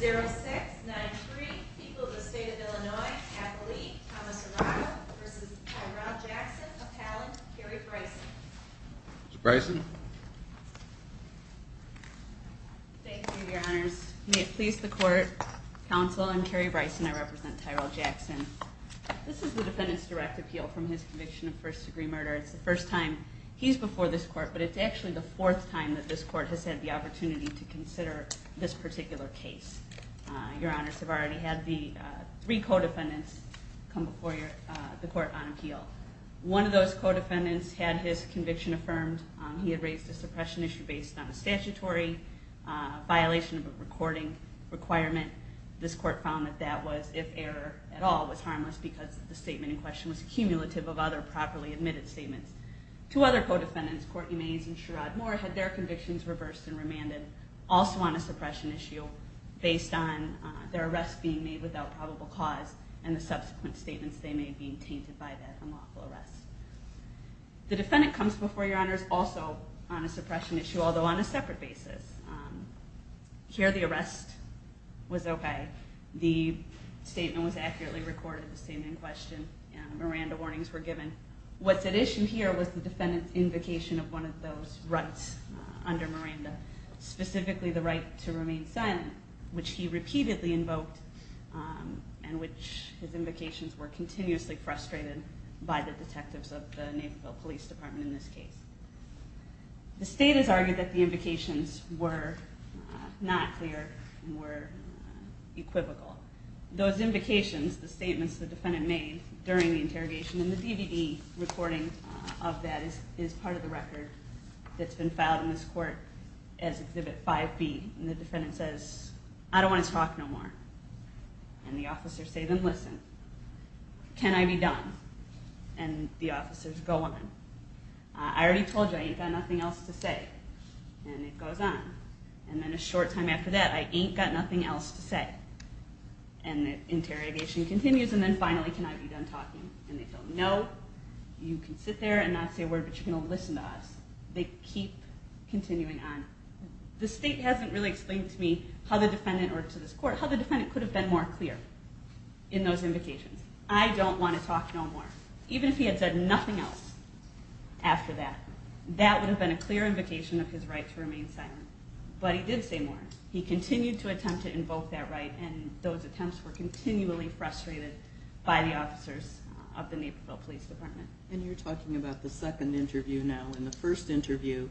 310-0693, people of the state of Illinois, Kathleen Thomas-Arado v. Tyrell Jackson, appellant, Carrie Bryson. Ms. Bryson. Thank you, your honors. May it please the court, counsel, I'm Carrie Bryson. I represent Tyrell Jackson. This is the defendant's direct appeal from his conviction of first degree murder. It's the first time he's before this court, but it's actually the fourth time that this court has had the opportunity to consider this particular case. Your honors have already had three co-defendants come before the court on appeal. One of those co-defendants had his conviction affirmed. He had raised a suppression issue based on a statutory violation of a recording requirement. This court found that that was, if error at all, was harmless because the statement in question was cumulative of other properly admitted statements. Two other co-defendants, Courtney Mays and Sherrod Moore, had their convictions reversed and remanded, also on a suppression issue based on their arrest being made without probable cause and the subsequent statements they made being tainted by that unlawful arrest. The defendant comes before your honors also on a suppression issue, although on a separate basis. Here the arrest was okay. The statement was accurately recorded, the statement in question, and Miranda warnings were given. What's at issue here was the defendant's invocation of one of those rights under Miranda, specifically the right to remain silent, which he repeatedly invoked, and which his invocations were continuously frustrated by the detectives of the Naperville Police Department in this case. The state has argued that the invocations were not clear and were equivocal. Those invocations, the statements the defendant made during the interrogation, and the DVD recording of that is part of the record that's been filed in this court as Exhibit 5B, and the defendant says, I don't want to talk no more. And the officers say to him, listen, can I be done? And the officers go on. I already told you, I ain't got nothing else to say. And it goes on. And then a short time after that, I ain't got nothing else to say. And the interrogation continues, and then finally, can I be done talking? And they go, no, you can sit there and not say a word, but you're going to listen to us. They keep continuing on. The state hasn't really explained to me how the defendant, or to this court, how the defendant could have been more clear in those invocations. I don't want to talk no more. Even if he had said nothing else after that, that would have been a clear invocation of his right to remain silent. But he did say more. He continued to attempt to invoke that right, and those attempts were continually frustrated by the officers of the Naperville Police Department. And you're talking about the second interview now. In the first interview,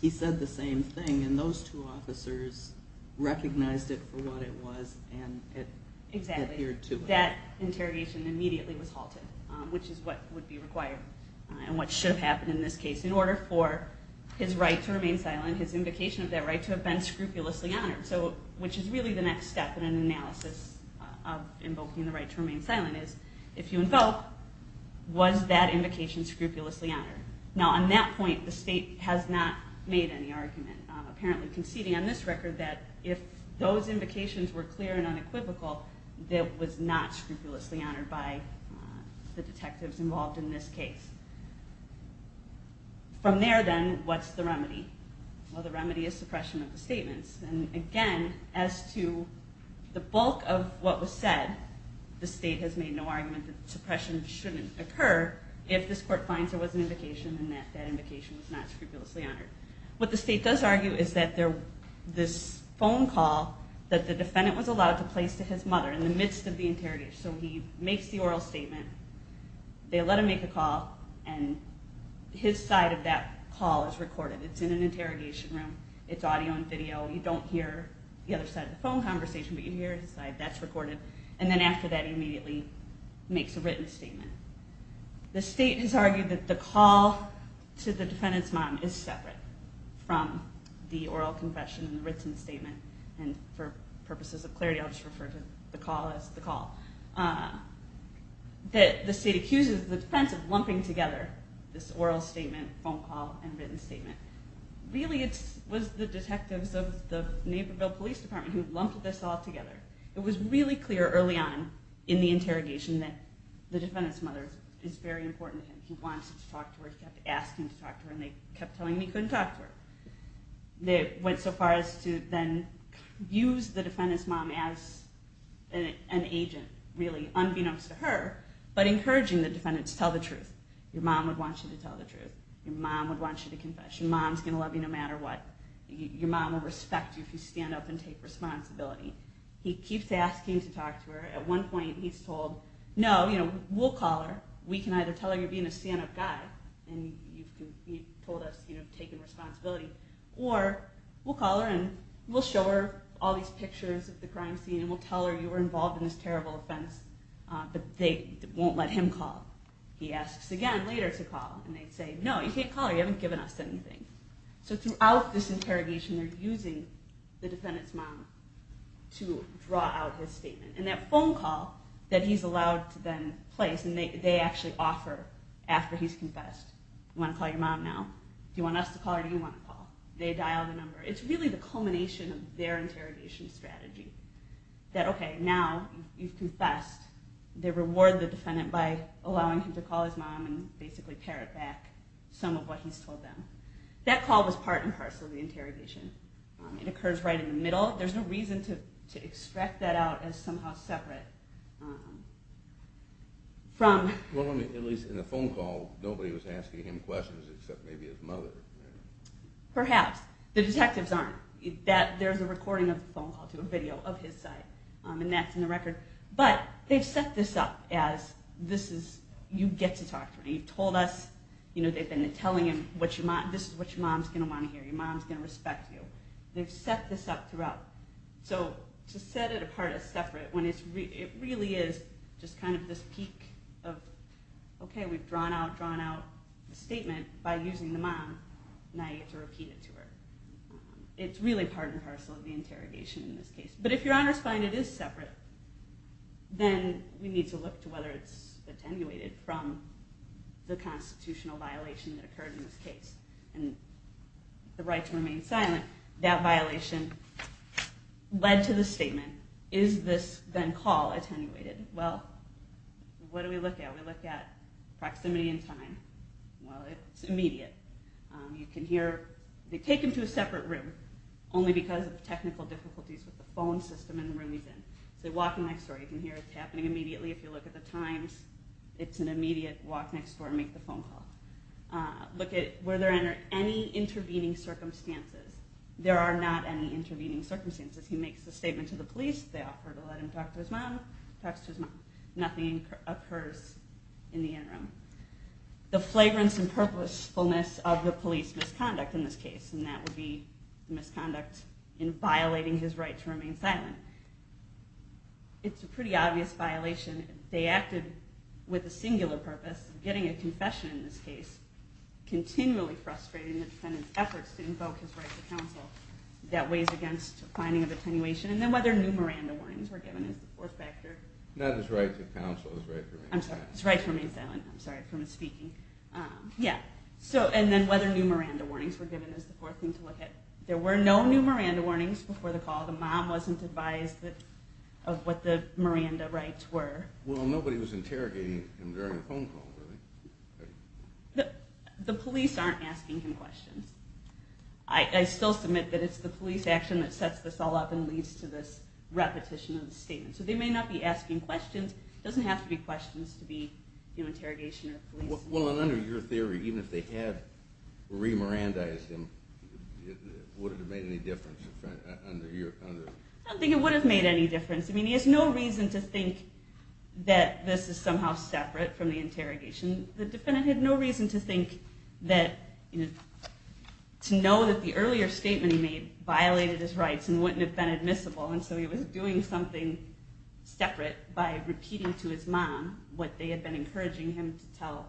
he said the same thing, and those two officers recognized it for what it was, and it adhered to it. That interrogation immediately was halted, which is what would be required, and what should have happened in this case, in order for his right to remain silent, his invocation of that right to have been scrupulously honored, which is really the next step in an analysis of invoking the right to remain silent, is if you invoke, was that invocation scrupulously honored? Now, on that point, the state has not made any argument, apparently conceding on this record, that if those invocations were clear and unequivocal, that it was not scrupulously honored by the detectives involved in this case. From there, then, what's the remedy? Well, the remedy is suppression of the statements. And again, as to the bulk of what was said, the state has made no argument that suppression shouldn't occur if this court finds there was an invocation and that that invocation was not scrupulously honored. What the state does argue is that this phone call that the defendant was allowed to place to his mother in the midst of the interrogation, so he makes the oral statement, they let him make the call, and his side of that call is recorded. It's in an interrogation room. It's audio and video. You don't hear the other side of the phone conversation, but you hear his side. That's recorded. And then after that, he immediately makes a written statement. The state has argued that the call to the defendant's mom is separate from the oral confession and the written statement. And for purposes of clarity, I'll just refer to the call as the call. The state accuses the defense of lumping together this oral statement, phone call, and written statement. Really, it was the detectives of the Naperville Police Department who lumped this all together. It was really clear early on in the interrogation that the defendant's mother is very important to him. He wanted to talk to her. He kept asking to talk to her, and they kept telling him he couldn't talk to her. They went so far as to then use the defendant's mom as an agent, really, unbeknownst to her, but encouraging the defendant to tell the truth. Your mom would want you to tell the truth. Your mom would want you to confess. Your mom's going to love you no matter what. Your mom will respect you if you stand up and take responsibility. He keeps asking to talk to her. At one point, he's told, no, we'll call her. We can either tell her you're being a stand-up guy, and you've told us you've taken responsibility, or we'll call her and we'll show her all these pictures of the crime scene, and we'll tell her you were involved in this terrible offense, but they won't let him call. He asks again later to call, and they say, no, you can't call her. You haven't given us anything. So throughout this interrogation, they're using the defendant's mom to draw out his statement. And that phone call that he's allowed to then place, and they actually offer after he's confessed, you want to call your mom now? Do you want us to call or do you want to call? They dial the number. It's really the culmination of their interrogation strategy, that okay, now you've confessed. They reward the defendant by allowing him to call his mom and basically parrot back some of what he's told them. That call was part and parcel of the interrogation. It occurs right in the middle. There's no reason to extract that out as somehow separate from... At least in the phone call, nobody was asking him questions except maybe his mother. Perhaps. The detectives aren't. There's a recording of the phone call to a video of his side, and that's in the record. But they've set this up as this is... You get to talk to him. You've told us, they've been telling him, this is what your mom's going to want to hear. Your mom's going to respect you. They've set this up throughout. So to set it apart as separate, when it really is just kind of this peak of, okay, we've drawn out the statement by using the mom, now you have to repeat it to her. It's really part and parcel of the interrogation in this case. But if your honors find it is separate, then we need to look to whether it's attenuated from the constitutional violation that occurred in this case. And the right to remain silent, that violation led to the statement. Is this then call attenuated? Well, what do we look at? We look at proximity and time. Well, it's immediate. You can hear, they take him to a separate room only because of technical difficulties with the phone system in the room he's in. It's a walking next door. You can hear it's happening immediately. If you look at the times, it's an immediate walk next door and make the phone call. Look at whether there are any intervening circumstances. There are not any intervening circumstances. He makes a statement to the police. They offer to let him talk to his mom. He talks to his mom. Nothing occurs in the interim. The flagrance and purposefulness of the police misconduct in this case, and that would be the misconduct in violating his right to remain silent. It's a pretty obvious violation. They acted with a singular purpose, getting a confession in this case, continually frustrating the defendant's efforts to invoke his right to counsel. That weighs against finding of attenuation. And then whether new Miranda warnings were given is the fourth factor. Not his right to counsel, his right to remain silent. I'm sorry, his right to remain silent. I'm sorry, from his speaking. Yeah, and then whether new Miranda warnings were given is the fourth thing to look at. There were no new Miranda warnings before the call. The mom wasn't advised of what the Miranda rights were. Well, nobody was interrogating him during the phone call, really. The police aren't asking him questions. I still submit that it's the police action that sets this all up and leads to this repetition of the statement. So they may not be asking questions. It doesn't have to be questions to be interrogation or police. Well, and under your theory, even if they had re-Miranda-ized him, would it have made any difference? I don't think it would have made any difference. I mean, he has no reason to think that this is somehow separate from the interrogation. The defendant had no reason to think that to know that the earlier statement he made violated his rights and wouldn't have been admissible. by repeating to his mom what they had been encouraging him to tell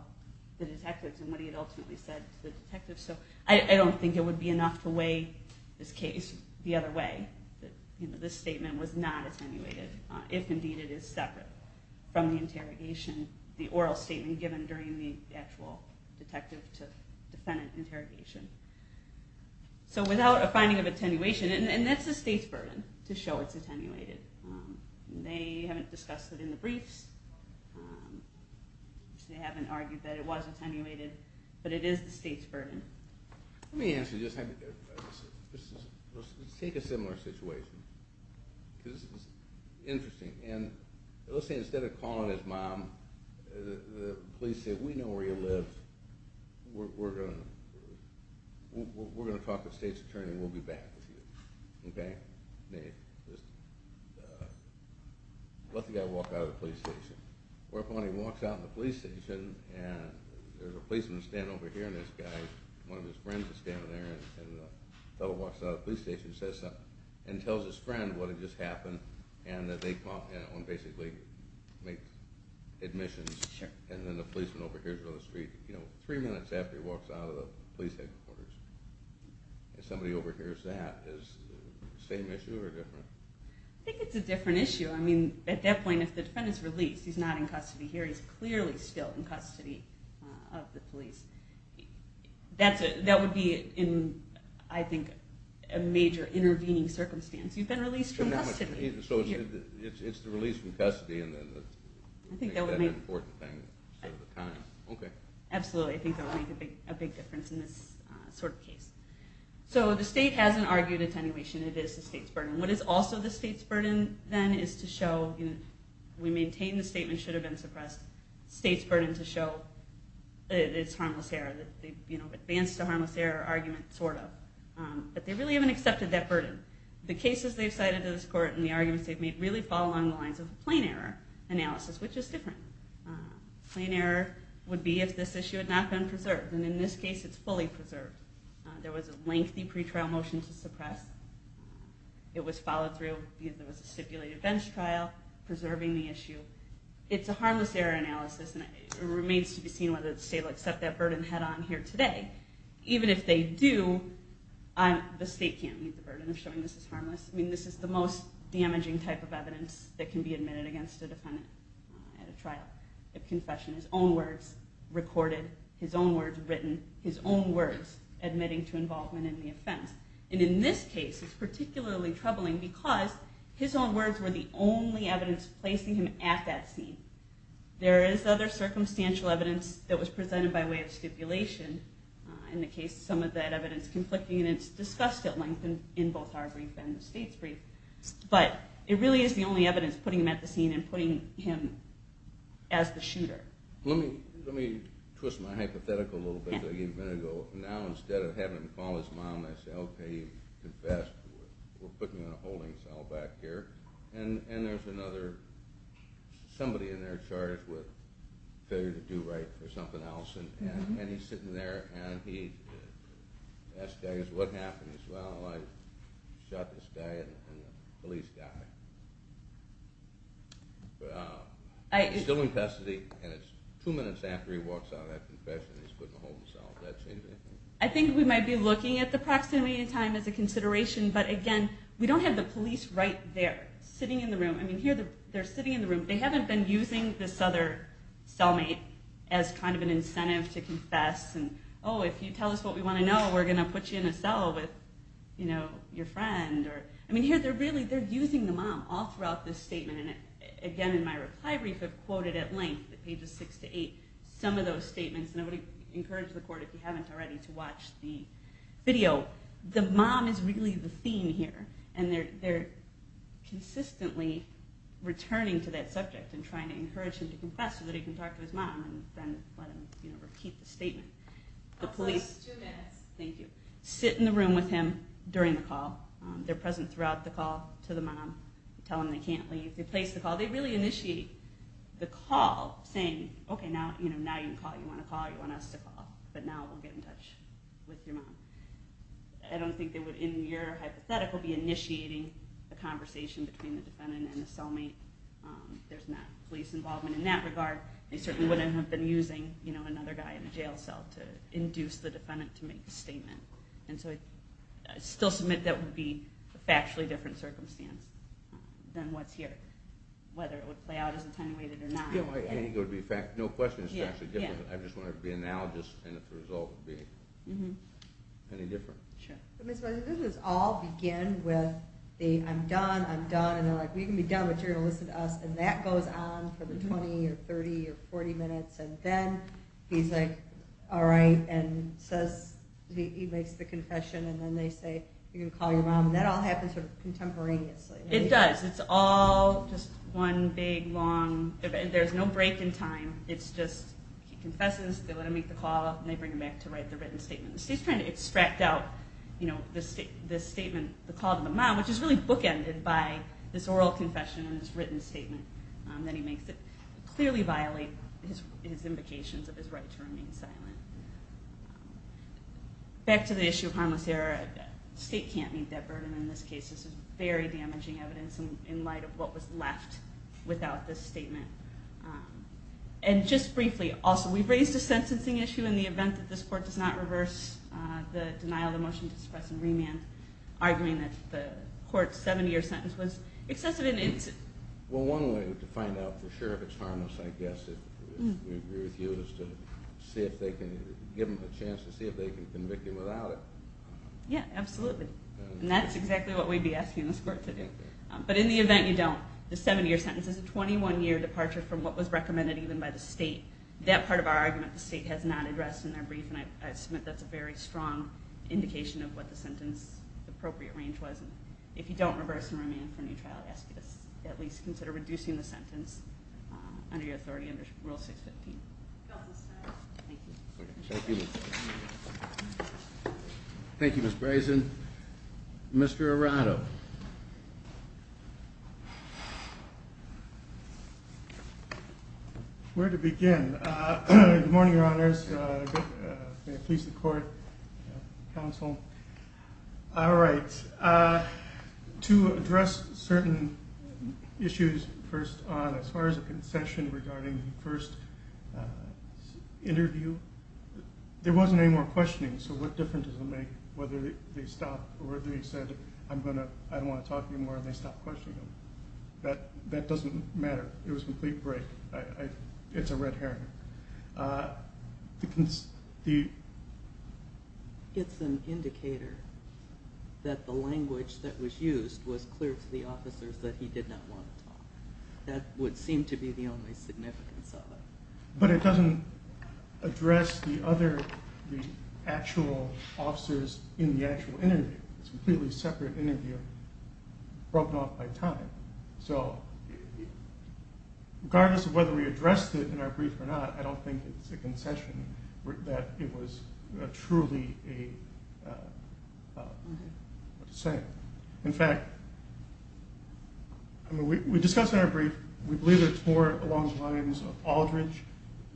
the detectives and what he had ultimately said to the detectives. So I don't think it would be enough to weigh this case the other way, that this statement was not attenuated, if indeed it is separate from the interrogation, the oral statement given during the actual detective to defendant interrogation. So without a finding of attenuation, and that's the state's burden, to show it's attenuated. They haven't discussed it in the briefs. They haven't argued that it was attenuated. But it is the state's burden. Let me answer this. Let's take a similar situation. Because this is interesting. And let's say instead of calling his mom, the police say, we know where you live. We're going to talk to the state's attorney. We'll be back with you. Let the guy walk out of the police station. Or if he walks out of the police station and there's a policeman standing over here and this guy, one of his friends is standing there, and the fellow walks out of the police station and tells his friend what had just happened, and that they basically make admissions. And then the policeman overhears it on the street three minutes after he walks out of the police headquarters. If somebody overhears that, is the same issue or different? I think it's a different issue. At that point, if the defendant is released, he's not in custody here. He's clearly still in custody of the police. That would be in, I think, a major intervening circumstance. You've been released from custody. So it's the release from custody. I think that would make a big difference in this sort of case. So the state hasn't argued attenuation. It is the state's burden. What is also the state's burden, then, is to show we maintain the statement should have been suppressed. State's burden to show it's harmless error, the advance to harmless error argument, sort of. But they really haven't accepted that burden. The cases they've cited to this court and the arguments they've made really fall along the lines of plain error analysis, which is different. Plain error would be if this issue had not been preserved. And in this case, it's fully preserved. There was a lengthy pretrial motion to suppress. It was followed through. There was a stipulated bench trial preserving the issue. It's a harmless error analysis. And it remains to be seen whether the state will accept that burden head on here today. Even if they do, the state can't meet the burden of showing this is harmless. I mean, this is the most damaging type of evidence that can be admitted against a defendant at a trial. A confession, his own words recorded, his own words written, his own words admitting to involvement in the offense. And in this case, it's particularly troubling because his own words were the only evidence placing him at that scene. There is other circumstantial evidence that was presented by way of stipulation. In the case of some of that evidence conflicting, and it's discussed at length in both our brief and the state's brief. But it really is the only evidence putting him at the scene and putting him as the shooter. Let me twist my hypothetical a little bit. Now, instead of having him call his mom and say, okay, confess, we're putting a holding cell back here. And there's another somebody in there charged with failure to do right or something else. And he's sitting there and he asks what happened. He says, well, I shot this guy and the police got him. Still in custody, and it's two minutes after he walks out of that statement. I think we might be looking at the proximity in time as a consideration. But, again, we don't have the police right there sitting in the room. I mean, here they're sitting in the room. They haven't been using this other cellmate as kind of an incentive to confess. And, oh, if you tell us what we want to know, we're going to put you in a cell with your friend. I mean, here they're using the mom all throughout this statement. And, again, in my reply brief I've quoted at length, pages six to eight, some of those statements. And I would encourage the court, if you haven't already, to watch the video. The mom is really the theme here. And they're consistently returning to that subject and trying to encourage him to confess so that he can talk to his mom and then let him repeat the statement. The police sit in the room with him during the call. They're present throughout the call to the mom. Tell them they can't leave. They place the call. They really initiate the call saying, okay, now you can call. You want to call. You want us to call. But now we'll get in touch with your mom. I don't think they would, in your hypothetical, be initiating a conversation between the defendant and the cellmate. There's not police involvement in that regard. They certainly wouldn't have been using another guy in a jail cell to induce the defendant to make the statement. And so I still submit that would be a factually different circumstance than what's here, whether it would play out as attenuated or not. I think it would be a fact. No question it's actually different. I just want to be analogous and if the result would be any different. Sure. This is all begin with the I'm done, I'm done. And they're like, well, you can be done, but you're going to listen to us. And that goes on for the 20 or 30 or 40 minutes. And then he's like, all right. And he makes the confession. And then they say, you're going to call your mom. And that all happens contemporaneously. It does. It's all just one big, long. There's no break in time. It's just he confesses, they let him make the call, and they bring him back to write the written statement. The state's trying to extract out this statement, the call to the mom, which is really bookended by this oral confession and this written statement that he makes that clearly violate his invocations of his right to remain silent. Back to the issue of harmless error. The state can't meet that burden in this case. This is very damaging evidence in light of what was left without this statement. And just briefly, also, we've raised a sentencing issue in the event that this court does not reverse the denial of the motion to suppress and remand, arguing that the court's seven-year sentence was excessive. Well, one way to find out for sure if it's harmless, I guess, if we agree with you, is to give them a chance to see if they can convict you without it. Yeah, absolutely. And that's exactly what we'd be asking this court to do. But in the event you don't, the seven-year sentence is a 21-year departure from what was recommended even by the state. That part of our argument the state has not addressed in their brief, and I submit that's a very strong indication of what the sentence appropriate range was. If you don't reverse and remand for neutrality, I ask that you at least consider reducing the sentence under your authority under Rule 615. Thank you, Ms. Brazen. Mr. Arado. Where to begin? Good morning, Your Honors. May it please the court, counsel. All right. To address certain issues first on, as far as a concession regarding the first interview, there wasn't any more questioning. So what difference does it make whether they stopped or they said, I don't want to talk anymore, and they stopped questioning them? That doesn't matter. It was a complete break. It's a red herring. It's an indicator that the language that was used was clear to the officers that he did not want to talk. That would seem to be the only significance of it. But it doesn't address the other actual officers in the actual interview. It's a completely separate interview broken off by time. So regardless of whether we addressed it in our brief or not, I don't think it's a concession that it was truly a saying. In fact, we discussed in our brief, we believe it's more along the lines of Aldridge,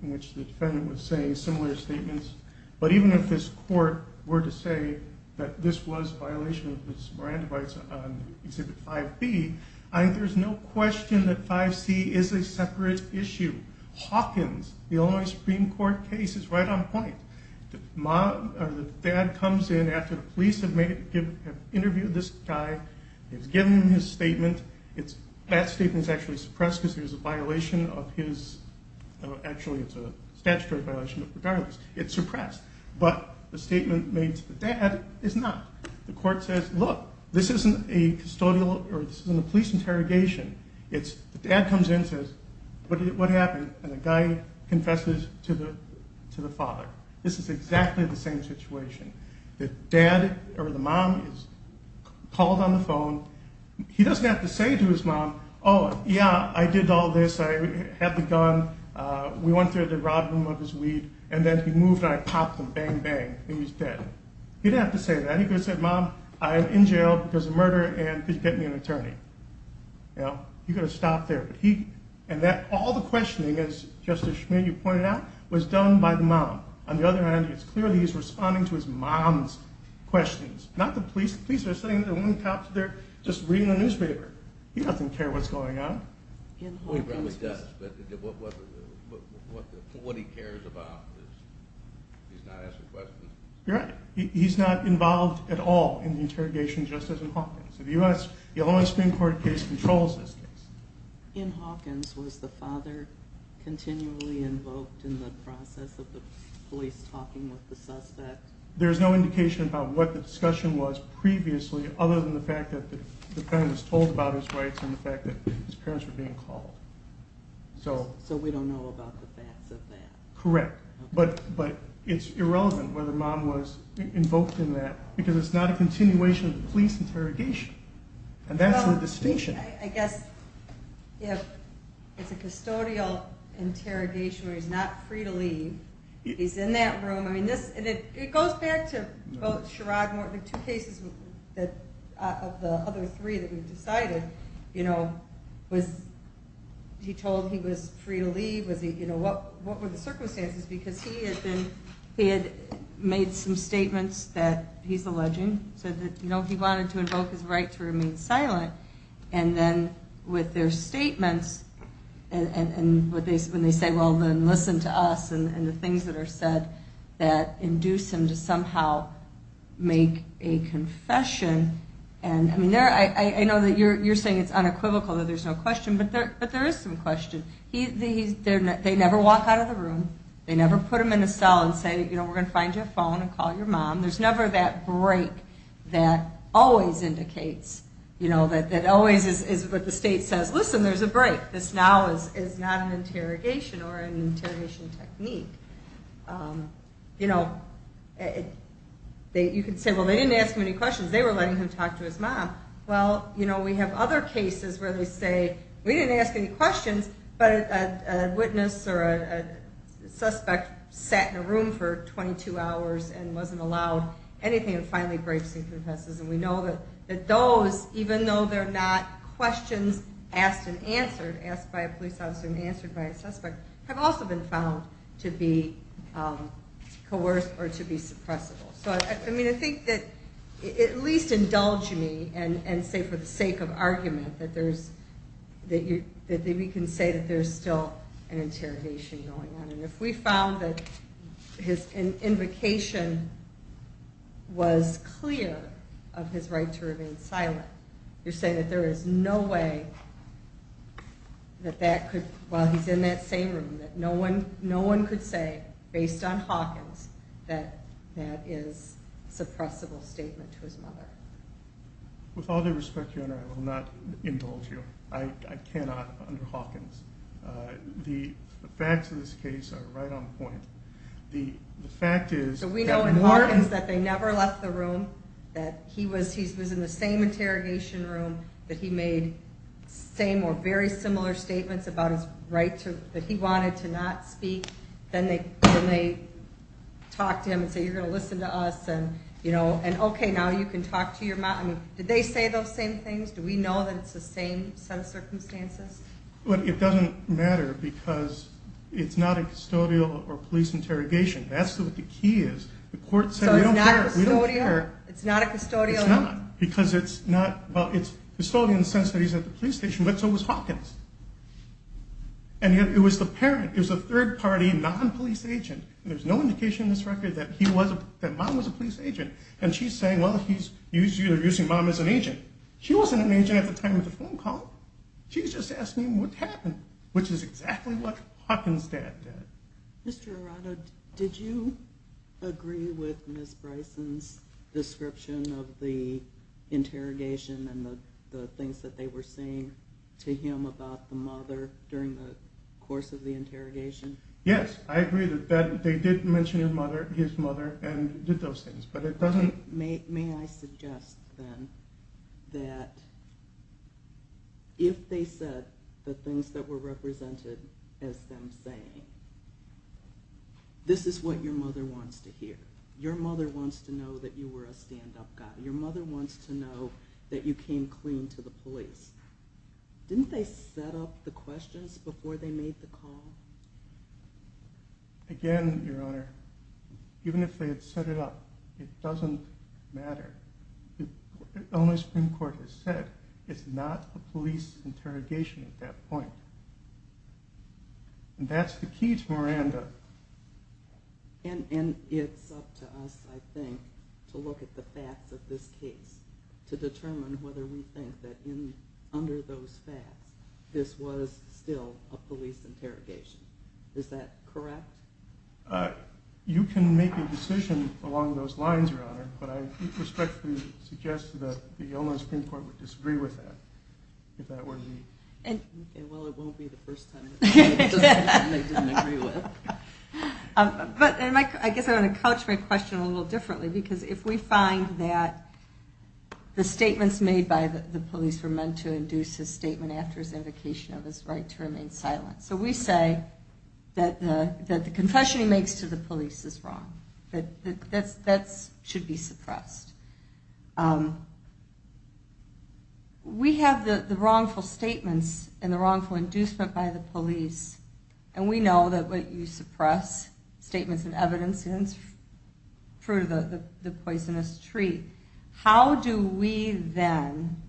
in which the defendant was saying similar statements. But even if this court were to say that this was a violation of his Miranda rights on Exhibit 5B, I think there's no question that 5C is a separate issue. Hawkins, the Illinois Supreme Court case, is right on point. The dad comes in after the police have interviewed this guy, has given him his statement. That statement is actually suppressed because it was a violation of his actually it's a statutory violation, but regardless, it's suppressed. But the statement made to the dad is not. The court says, look, this isn't a police interrogation. The dad comes in and says, what happened? And the guy confesses to the father. This is exactly the same situation. The dad or the mom is called on the phone. He doesn't have to say to his mom, oh, yeah, I did all this. I had the gun. We went through the rob room of his weed. And then he moved and I popped him, bang, bang, and he was dead. He didn't have to say that. He could have said, mom, I'm in jail because of murder, and could you get me an attorney? He could have stopped there. And all the questioning, as Justice Schmitt, you pointed out, was done by the mom. On the other hand, it's clear that he's responding to his mom's questions, not the police. The police are sitting there and the cops are there just reading the newspaper. He doesn't care what's going on. He probably does, but what he cares about is he's not asking questions. You're right. He's not involved at all in the interrogation, just as in Hawkins. In the U.S., the Illinois Supreme Court case controls this case. In Hawkins, was the father continually invoked in the process of the police talking with the suspect? There's no indication about what the discussion was previously, other than the fact that the parent was told about his rights and the fact that his parents were being called. So we don't know about the facts of that. Correct. But it's irrelevant whether mom was invoked in that, because it's not a continuation of the police interrogation, and that's the distinction. I guess it's a custodial interrogation where he's not free to leave. He's in that room. It goes back to both Sherrod and Morton, the two cases of the other three that we've decided. Was he told he was free to leave? What were the circumstances? Because he had made some statements that he's alleging. He said that he wanted to invoke his right to remain silent, and then with their statements, when they say, well, then listen to us and the things that are said that induce him to somehow make a confession. I know that you're saying it's unequivocal that there's no question, but there is some question. They never walk out of the room. They never put him in a cell and say, we're going to find you a phone and call your mom. There's never that break that always indicates, that always is what the state says, listen, there's a break. This now is not an interrogation or an interrogation technique. You can say, well, they didn't ask him any questions. They were letting him talk to his mom. Well, we have other cases where they say, we didn't ask any questions, but a witness or a suspect sat in a room for 22 hours and wasn't allowed anything and finally breaks and confesses, and we know that those, even though they're not questions asked and answered, asked by a police officer and answered by a suspect, have also been found to be coerced or to be suppressible. I think that at least indulge me and say for the sake of argument that we can say that there's still an interrogation going on. If we found that his invocation was clear of his right to remain silent, you're saying that there is no way that that could, while he's in that same room, that no one could say, based on Hawkins, that that is a suppressible statement to his mother. With all due respect, Your Honor, I will not indulge you. I cannot under Hawkins. The facts of this case are right on point. The fact is that more— So we know in Hawkins that they never left the room, that he was in the same interrogation room, that he made the same or very similar statements about his right to— that he wanted to not speak. Then they talked to him and said, you're going to listen to us and, you know, okay, now you can talk to your mom. Did they say those same things? Do we know that it's the same set of circumstances? Well, it doesn't matter because it's not a custodial or police interrogation. That's what the key is. The court said we don't care. So it's not a custodial? It's not because it's not— well, it's custodial in the sense that he's at the police station, but so was Hawkins. And yet it was the parent. It was a third-party, non-police agent. There's no indication in this record that mom was a police agent. And she's saying, well, he's using mom as an agent. She wasn't an agent at the time of the phone call. She's just asking what happened, which is exactly what Hawkins' dad did. Mr. Arado, did you agree with Ms. Bryson's description of the interrogation and the things that they were saying to him about the mother during the course of the interrogation? Yes, I agree that they did mention his mother and did those things, but it doesn't— May I suggest, then, that if they said the things that were represented as them saying, this is what your mother wants to hear. Your mother wants to know that you were a stand-up guy. Your mother wants to know that you came clean to the police. Didn't they set up the questions before they made the call? Again, Your Honor, even if they had set it up, it doesn't matter. The only Supreme Court has said it's not a police interrogation at that point. And that's the key to Miranda. And it's up to us, I think, to look at the facts of this case to determine whether we think that under those facts, this was still a police interrogation. Is that correct? You can make a decision along those lines, Your Honor, but I respectfully suggest that the Illinois Supreme Court would disagree with that, if that were the case. Well, it won't be the first time they disagree with it. But I guess I want to couch my question a little differently, because if we find that the statements made by the police were meant to induce his statement after his indication of his right to remain silent. So we say that the confession he makes to the police is wrong. That should be suppressed. We have the wrongful statements and the wrongful inducement by the police, and we know that when you suppress statements and evidence, it's fruit of the poisonous tree. How do we then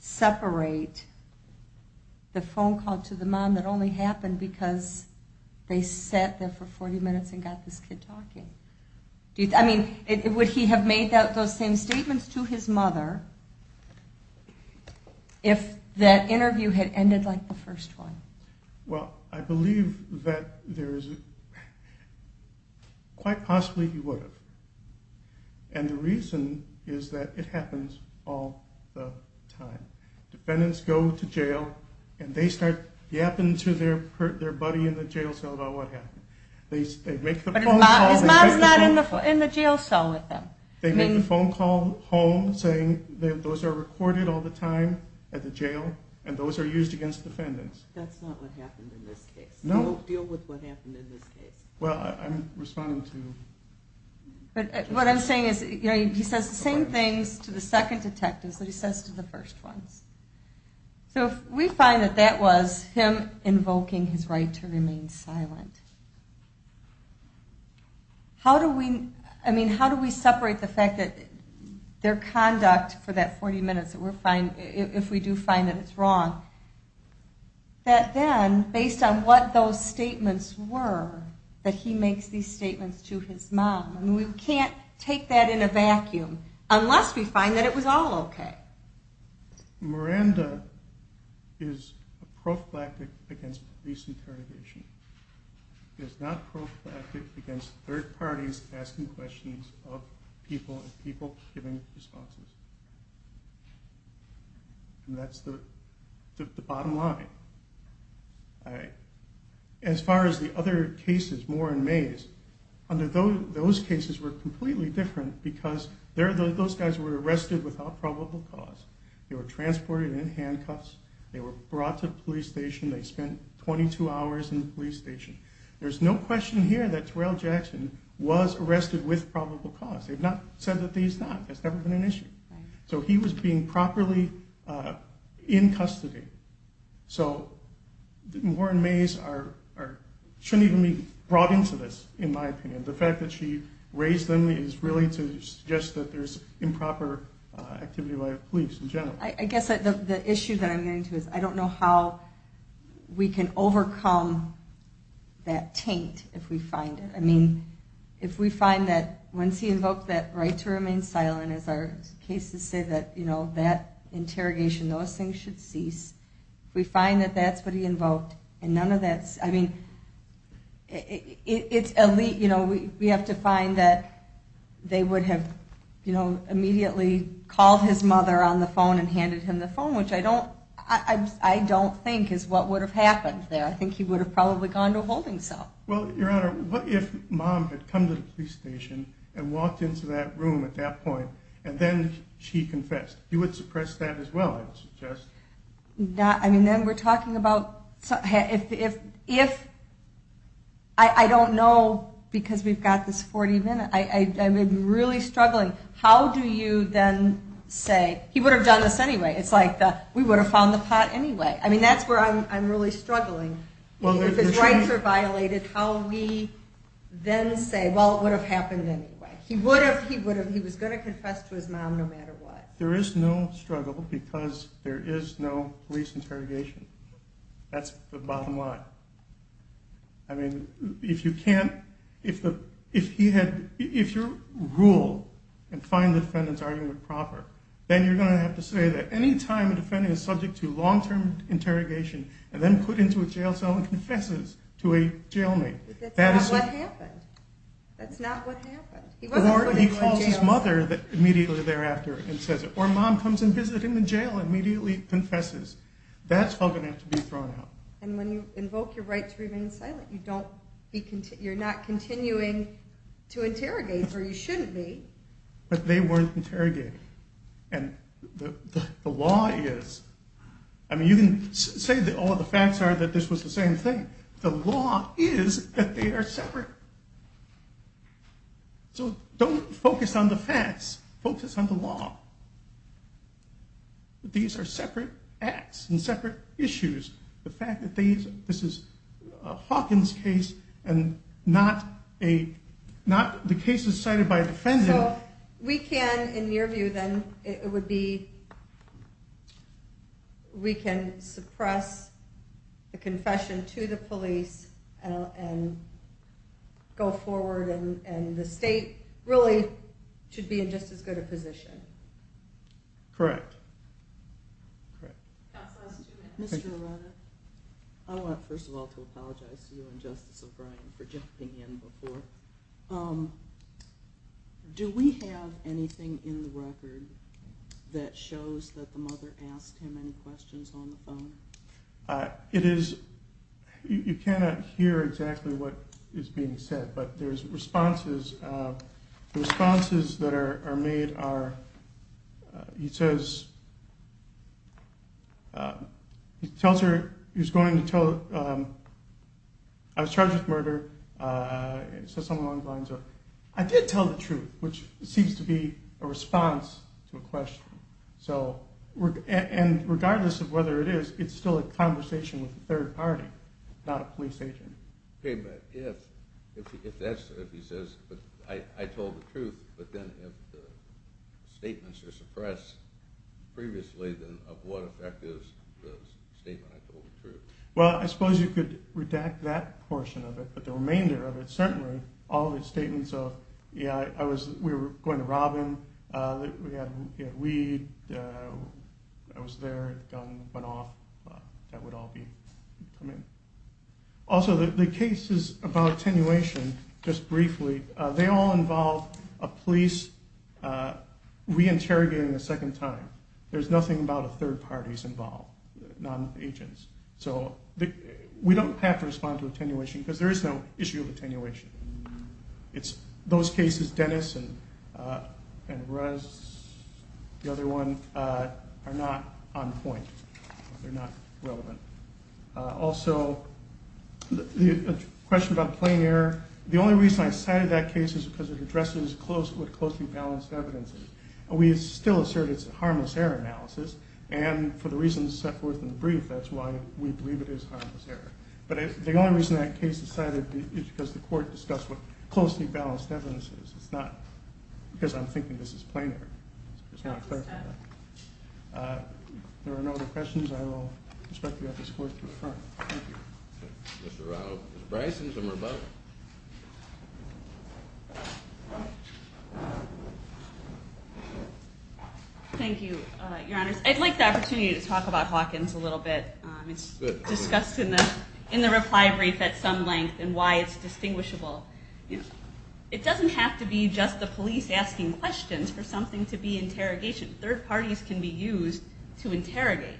separate the phone call to the mom that only happened because they sat there for 40 minutes and got this kid talking? Would he have made those same statements to his mother if that interview had ended like the first one? Well, I believe that quite possibly he would have. And the reason is that it happens all the time. Defendants go to jail and they start yapping to their buddy in the jail cell about what happened. But his mom is not in the jail cell with them. They make the phone call home saying those are recorded all the time at the jail and those are used against defendants. That's not what happened in this case. No. Don't deal with what happened in this case. Well, I'm responding to... What I'm saying is he says the same things to the second detectives that he says to the first ones. So if we find that that was him invoking his right to remain silent, how do we separate the fact that their conduct for that 40 minutes, if we do find that it's wrong, that then, based on what those statements were, that he makes these statements to his mom? We can't take that in a vacuum unless we find that it was all okay. Miranda is a prophylactic against police interrogation. She is not prophylactic against third parties asking questions of people and people giving responses. And that's the bottom line. As far as the other cases, Moore and Mays, those cases were completely different because those guys were arrested without probable cause. They were transported in handcuffs. They were brought to the police station. They spent 22 hours in the police station. There's no question here that Terrell Jackson was arrested with probable cause. They've not said that he's not. That's never been an issue. So he was being properly in custody. So Moore and Mays shouldn't even be brought into this, in my opinion. The fact that she raised them is really to suggest that there's improper activity by the police in general. I guess the issue that I'm getting to is I don't know how we can overcome that taint if we find it. I mean, if we find that once he invoked that right to remain silent, as our cases say, that, you know, that interrogation, those things should cease. If we find that that's what he invoked and none of that's, I mean, it's elite. You know, we have to find that they would have, you know, immediately called his mother on the phone and handed him the phone, which I don't think is what would have happened there. I think he would have probably gone to a holding cell. Well, Your Honor, what if Mom had come to the police station and walked into that room at that You would suppress that as well, I would suggest. I mean, then we're talking about if, I don't know because we've got this 40 minutes. I'm really struggling. How do you then say, he would have done this anyway. It's like we would have found the pot anyway. I mean, that's where I'm really struggling. If his rights are violated, how we then say, well, it would have happened anyway. He would have, he was going to confess to his mom no matter what. There is no struggle because there is no police interrogation. That's the bottom line. I mean, if you can't, if he had, if you rule and find the defendant's argument proper, then you're going to have to say that any time a defendant is subject to long-term interrogation and then put into a jail cell and confesses to a jailmate. That's not what happened. That's not what happened. Or he calls his mother immediately thereafter and says it. Or mom comes and visits him in jail and immediately confesses. That's all going to have to be thrown out. And when you invoke your right to remain silent, you don't, you're not continuing to interrogate or you shouldn't be. But they weren't interrogated. And the law is, I mean, you can say that all the facts are that this was the same thing. The law is that they are separate. So don't focus on the facts, focus on the law. These are separate acts and separate issues. The fact that these, this is a Hawkins case and not a, not the cases cited by a defendant. We can, in your view, then it would be, we can suppress the confession to the police and, and go forward. And the state really should be in just as good a position. Correct. Correct. Mr. I want, first of all, to apologize to you and justice O'Brien for jumping in before. Do we have anything in the record that shows that the mother asked him any questions on the phone? It is, you cannot hear exactly what is being said, but there's responses. The responses that are made are, he says, he tells her he was going to tell, I was charged with murder. So someone lines up, I did tell the truth, which seems to be a response to a question. So regardless of whether it is, it's still a conversation with the third party, not a police agent. Okay. But if, if that's what he says, but I told the truth, but then if the statements are suppressed previously, then of what effect is the statement? I told the truth. Well, I suppose you could redact that portion of it, but the remainder of it, certainly all of his statements of, yeah, I was, we were going to Robin. We had weed. I was there. Gun went off. That would all be coming. Also the cases about attenuation, just briefly, they all involve a police reinterrogating the second time. There's nothing about a third parties involved, non agents. So we don't have to respond to attenuation because there is no issue of attenuation. It's those cases, Dennis and Russ, the other one are not on point. They're not relevant. Also the question about plain air. The only reason I cited that case is because it addresses close with closely balanced evidence. And we still assert it's a harmless error analysis. And for the reasons set forth in the brief, that's why we believe it is harmless error. But the only reason that case decided is because the court discussed what closely balanced evidence is. It's not because I'm thinking this is plain air. There are no other questions. Thank you. Your honors. I'd like the opportunity to talk about Hawkins a little bit. It's discussed in the reply brief at some length and why it's distinguishable. It doesn't have to be just the police asking questions for something to be interrogation. Third parties can be used to interrogate.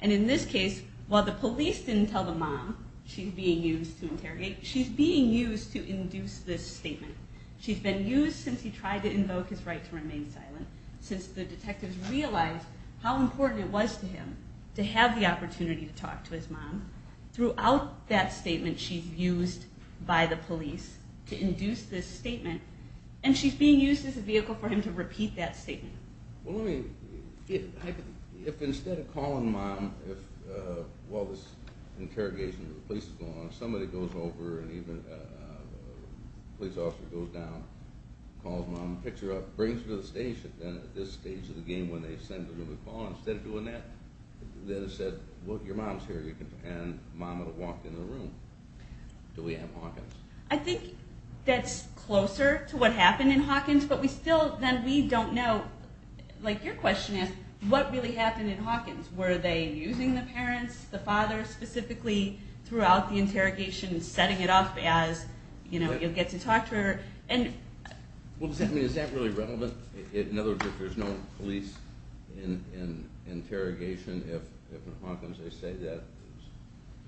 And in this case, while the police didn't tell the mom she's being used to interrogate, she's being used to induce this statement. She's been used since he tried to invoke his right to remain silent. Since the detectives realized how important it was to him to have the opportunity to talk to his mom, throughout that statement, she's used by the police to induce this statement. And she's being used as a vehicle for him to repeat that statement. Well, let me, if instead of calling mom, while this interrogation with the police is going on, if somebody goes over and even a police officer goes down, calls mom, picks her up, brings her to the station, then at this stage of the game when they send her to be called, instead of doing that, then it said, well, your mom's here. And mom would have walked into the room. Do we have Hawkins? I think that's closer to what happened in Hawkins, but we still, then we don't know, like your question is, what really happened in Hawkins? Were they using the parents, the father specifically, throughout the interrogation and setting it up as, you know, you'll get to talk to her? Well, does that mean, is that really relevant? In other words, if there's no police in interrogation, if in Hawkins they say that,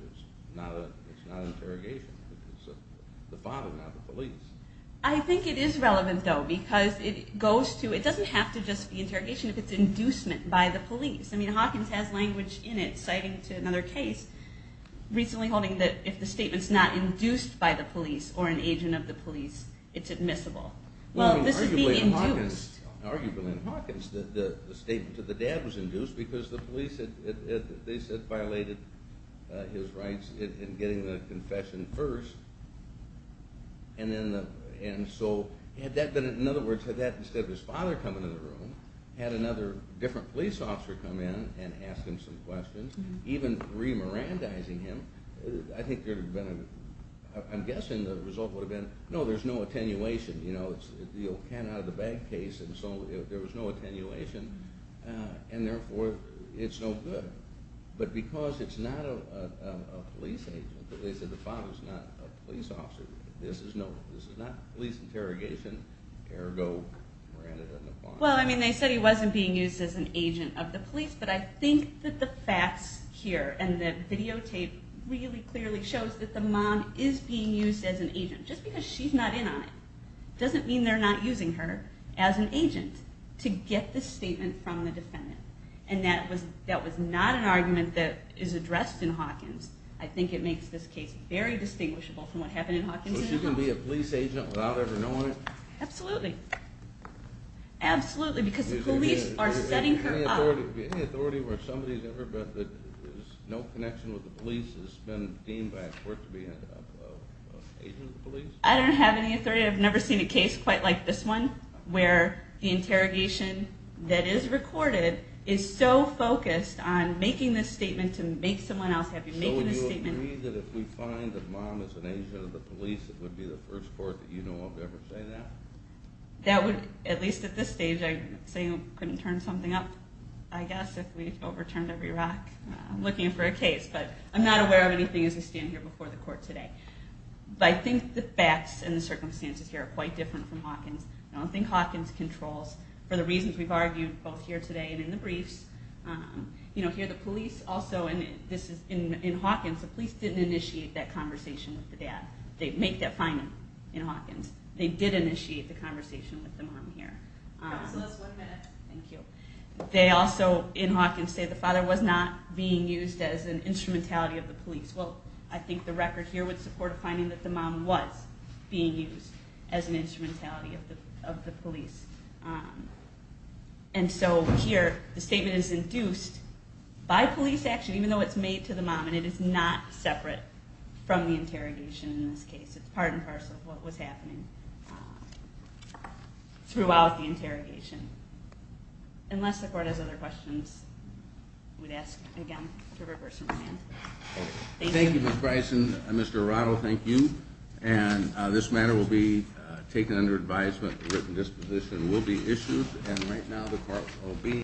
it's not an interrogation. It's the father, not the police. I think it is relevant, though, because it goes to, it doesn't have to just be interrogation if it's inducement by the police. I mean, Hawkins has language in it citing to another case, recently holding that if the statement's not induced by the police or an agent of the police, it's admissible. Well, this would be induced. Arguably in Hawkins, the statement to the dad was induced because the police had, they said, violated his rights in getting the confession first, and then the, and so, had that been, in other words, had that instead of his father coming into the room, had another different police officer come in and ask him some questions, even re-Mirandizing him, I think there would have been, I'm guessing the result would have been, no, there's no attenuation. It's the old can-out-of-the-bag case, and so there was no attenuation, and therefore it's no good. But because it's not a police agent, because they said the father's not a police officer, this is not police interrogation, ergo Miranda and the father. Well, I mean, they said he wasn't being used as an agent of the police, but I think that the facts here and the videotape really clearly shows that the mom is being used as an agent, just because she's not in on it doesn't mean they're not using her as an agent to get the statement from the defendant. And that was not an argument that is addressed in Hawkins. I think it makes this case very distinguishable from what happened in Hawkins. So she can be a police agent without ever knowing it? Absolutely. Absolutely, because the police are setting her up. Any authority where somebody's ever, there's no connection with the police that's been deemed by a court to be an agent of the police? I don't have any authority. I've never seen a case quite like this one where the interrogation that is recorded is so focused on making this statement to make someone else happy, making this statement. So would you agree that if we find that mom is an agent of the police, it would be the first court that you know of to ever say that? That would, at least at this stage, I'd say you couldn't turn something up, I guess, if we overturned every rock looking for a case. But I'm not aware of anything as I stand here before the court today. But I think the facts and the circumstances here are quite different from Hawkins. I don't think Hawkins controls, for the reasons we've argued both here today and in the briefs. Here the police also, and this is in Hawkins, They make that finding in Hawkins. They did initiate the conversation with the mom here. Counselors, one minute. Thank you. They also, in Hawkins, say the father was not being used as an instrumentality of the police. Well, I think the record here would support a finding that the mom was being used as an instrumentality of the police. And so here the statement is induced by police action, even though it's made to the mom, and it is not separate from the interrogation in this case. It's part and parcel of what was happening throughout the interrogation. Unless the court has other questions, I would ask again to reverse my hand. Thank you, Ms. Bryson. Mr. Arado, thank you. And this matter will be taken under advisement. A written disposition will be issued. And right now the court will be...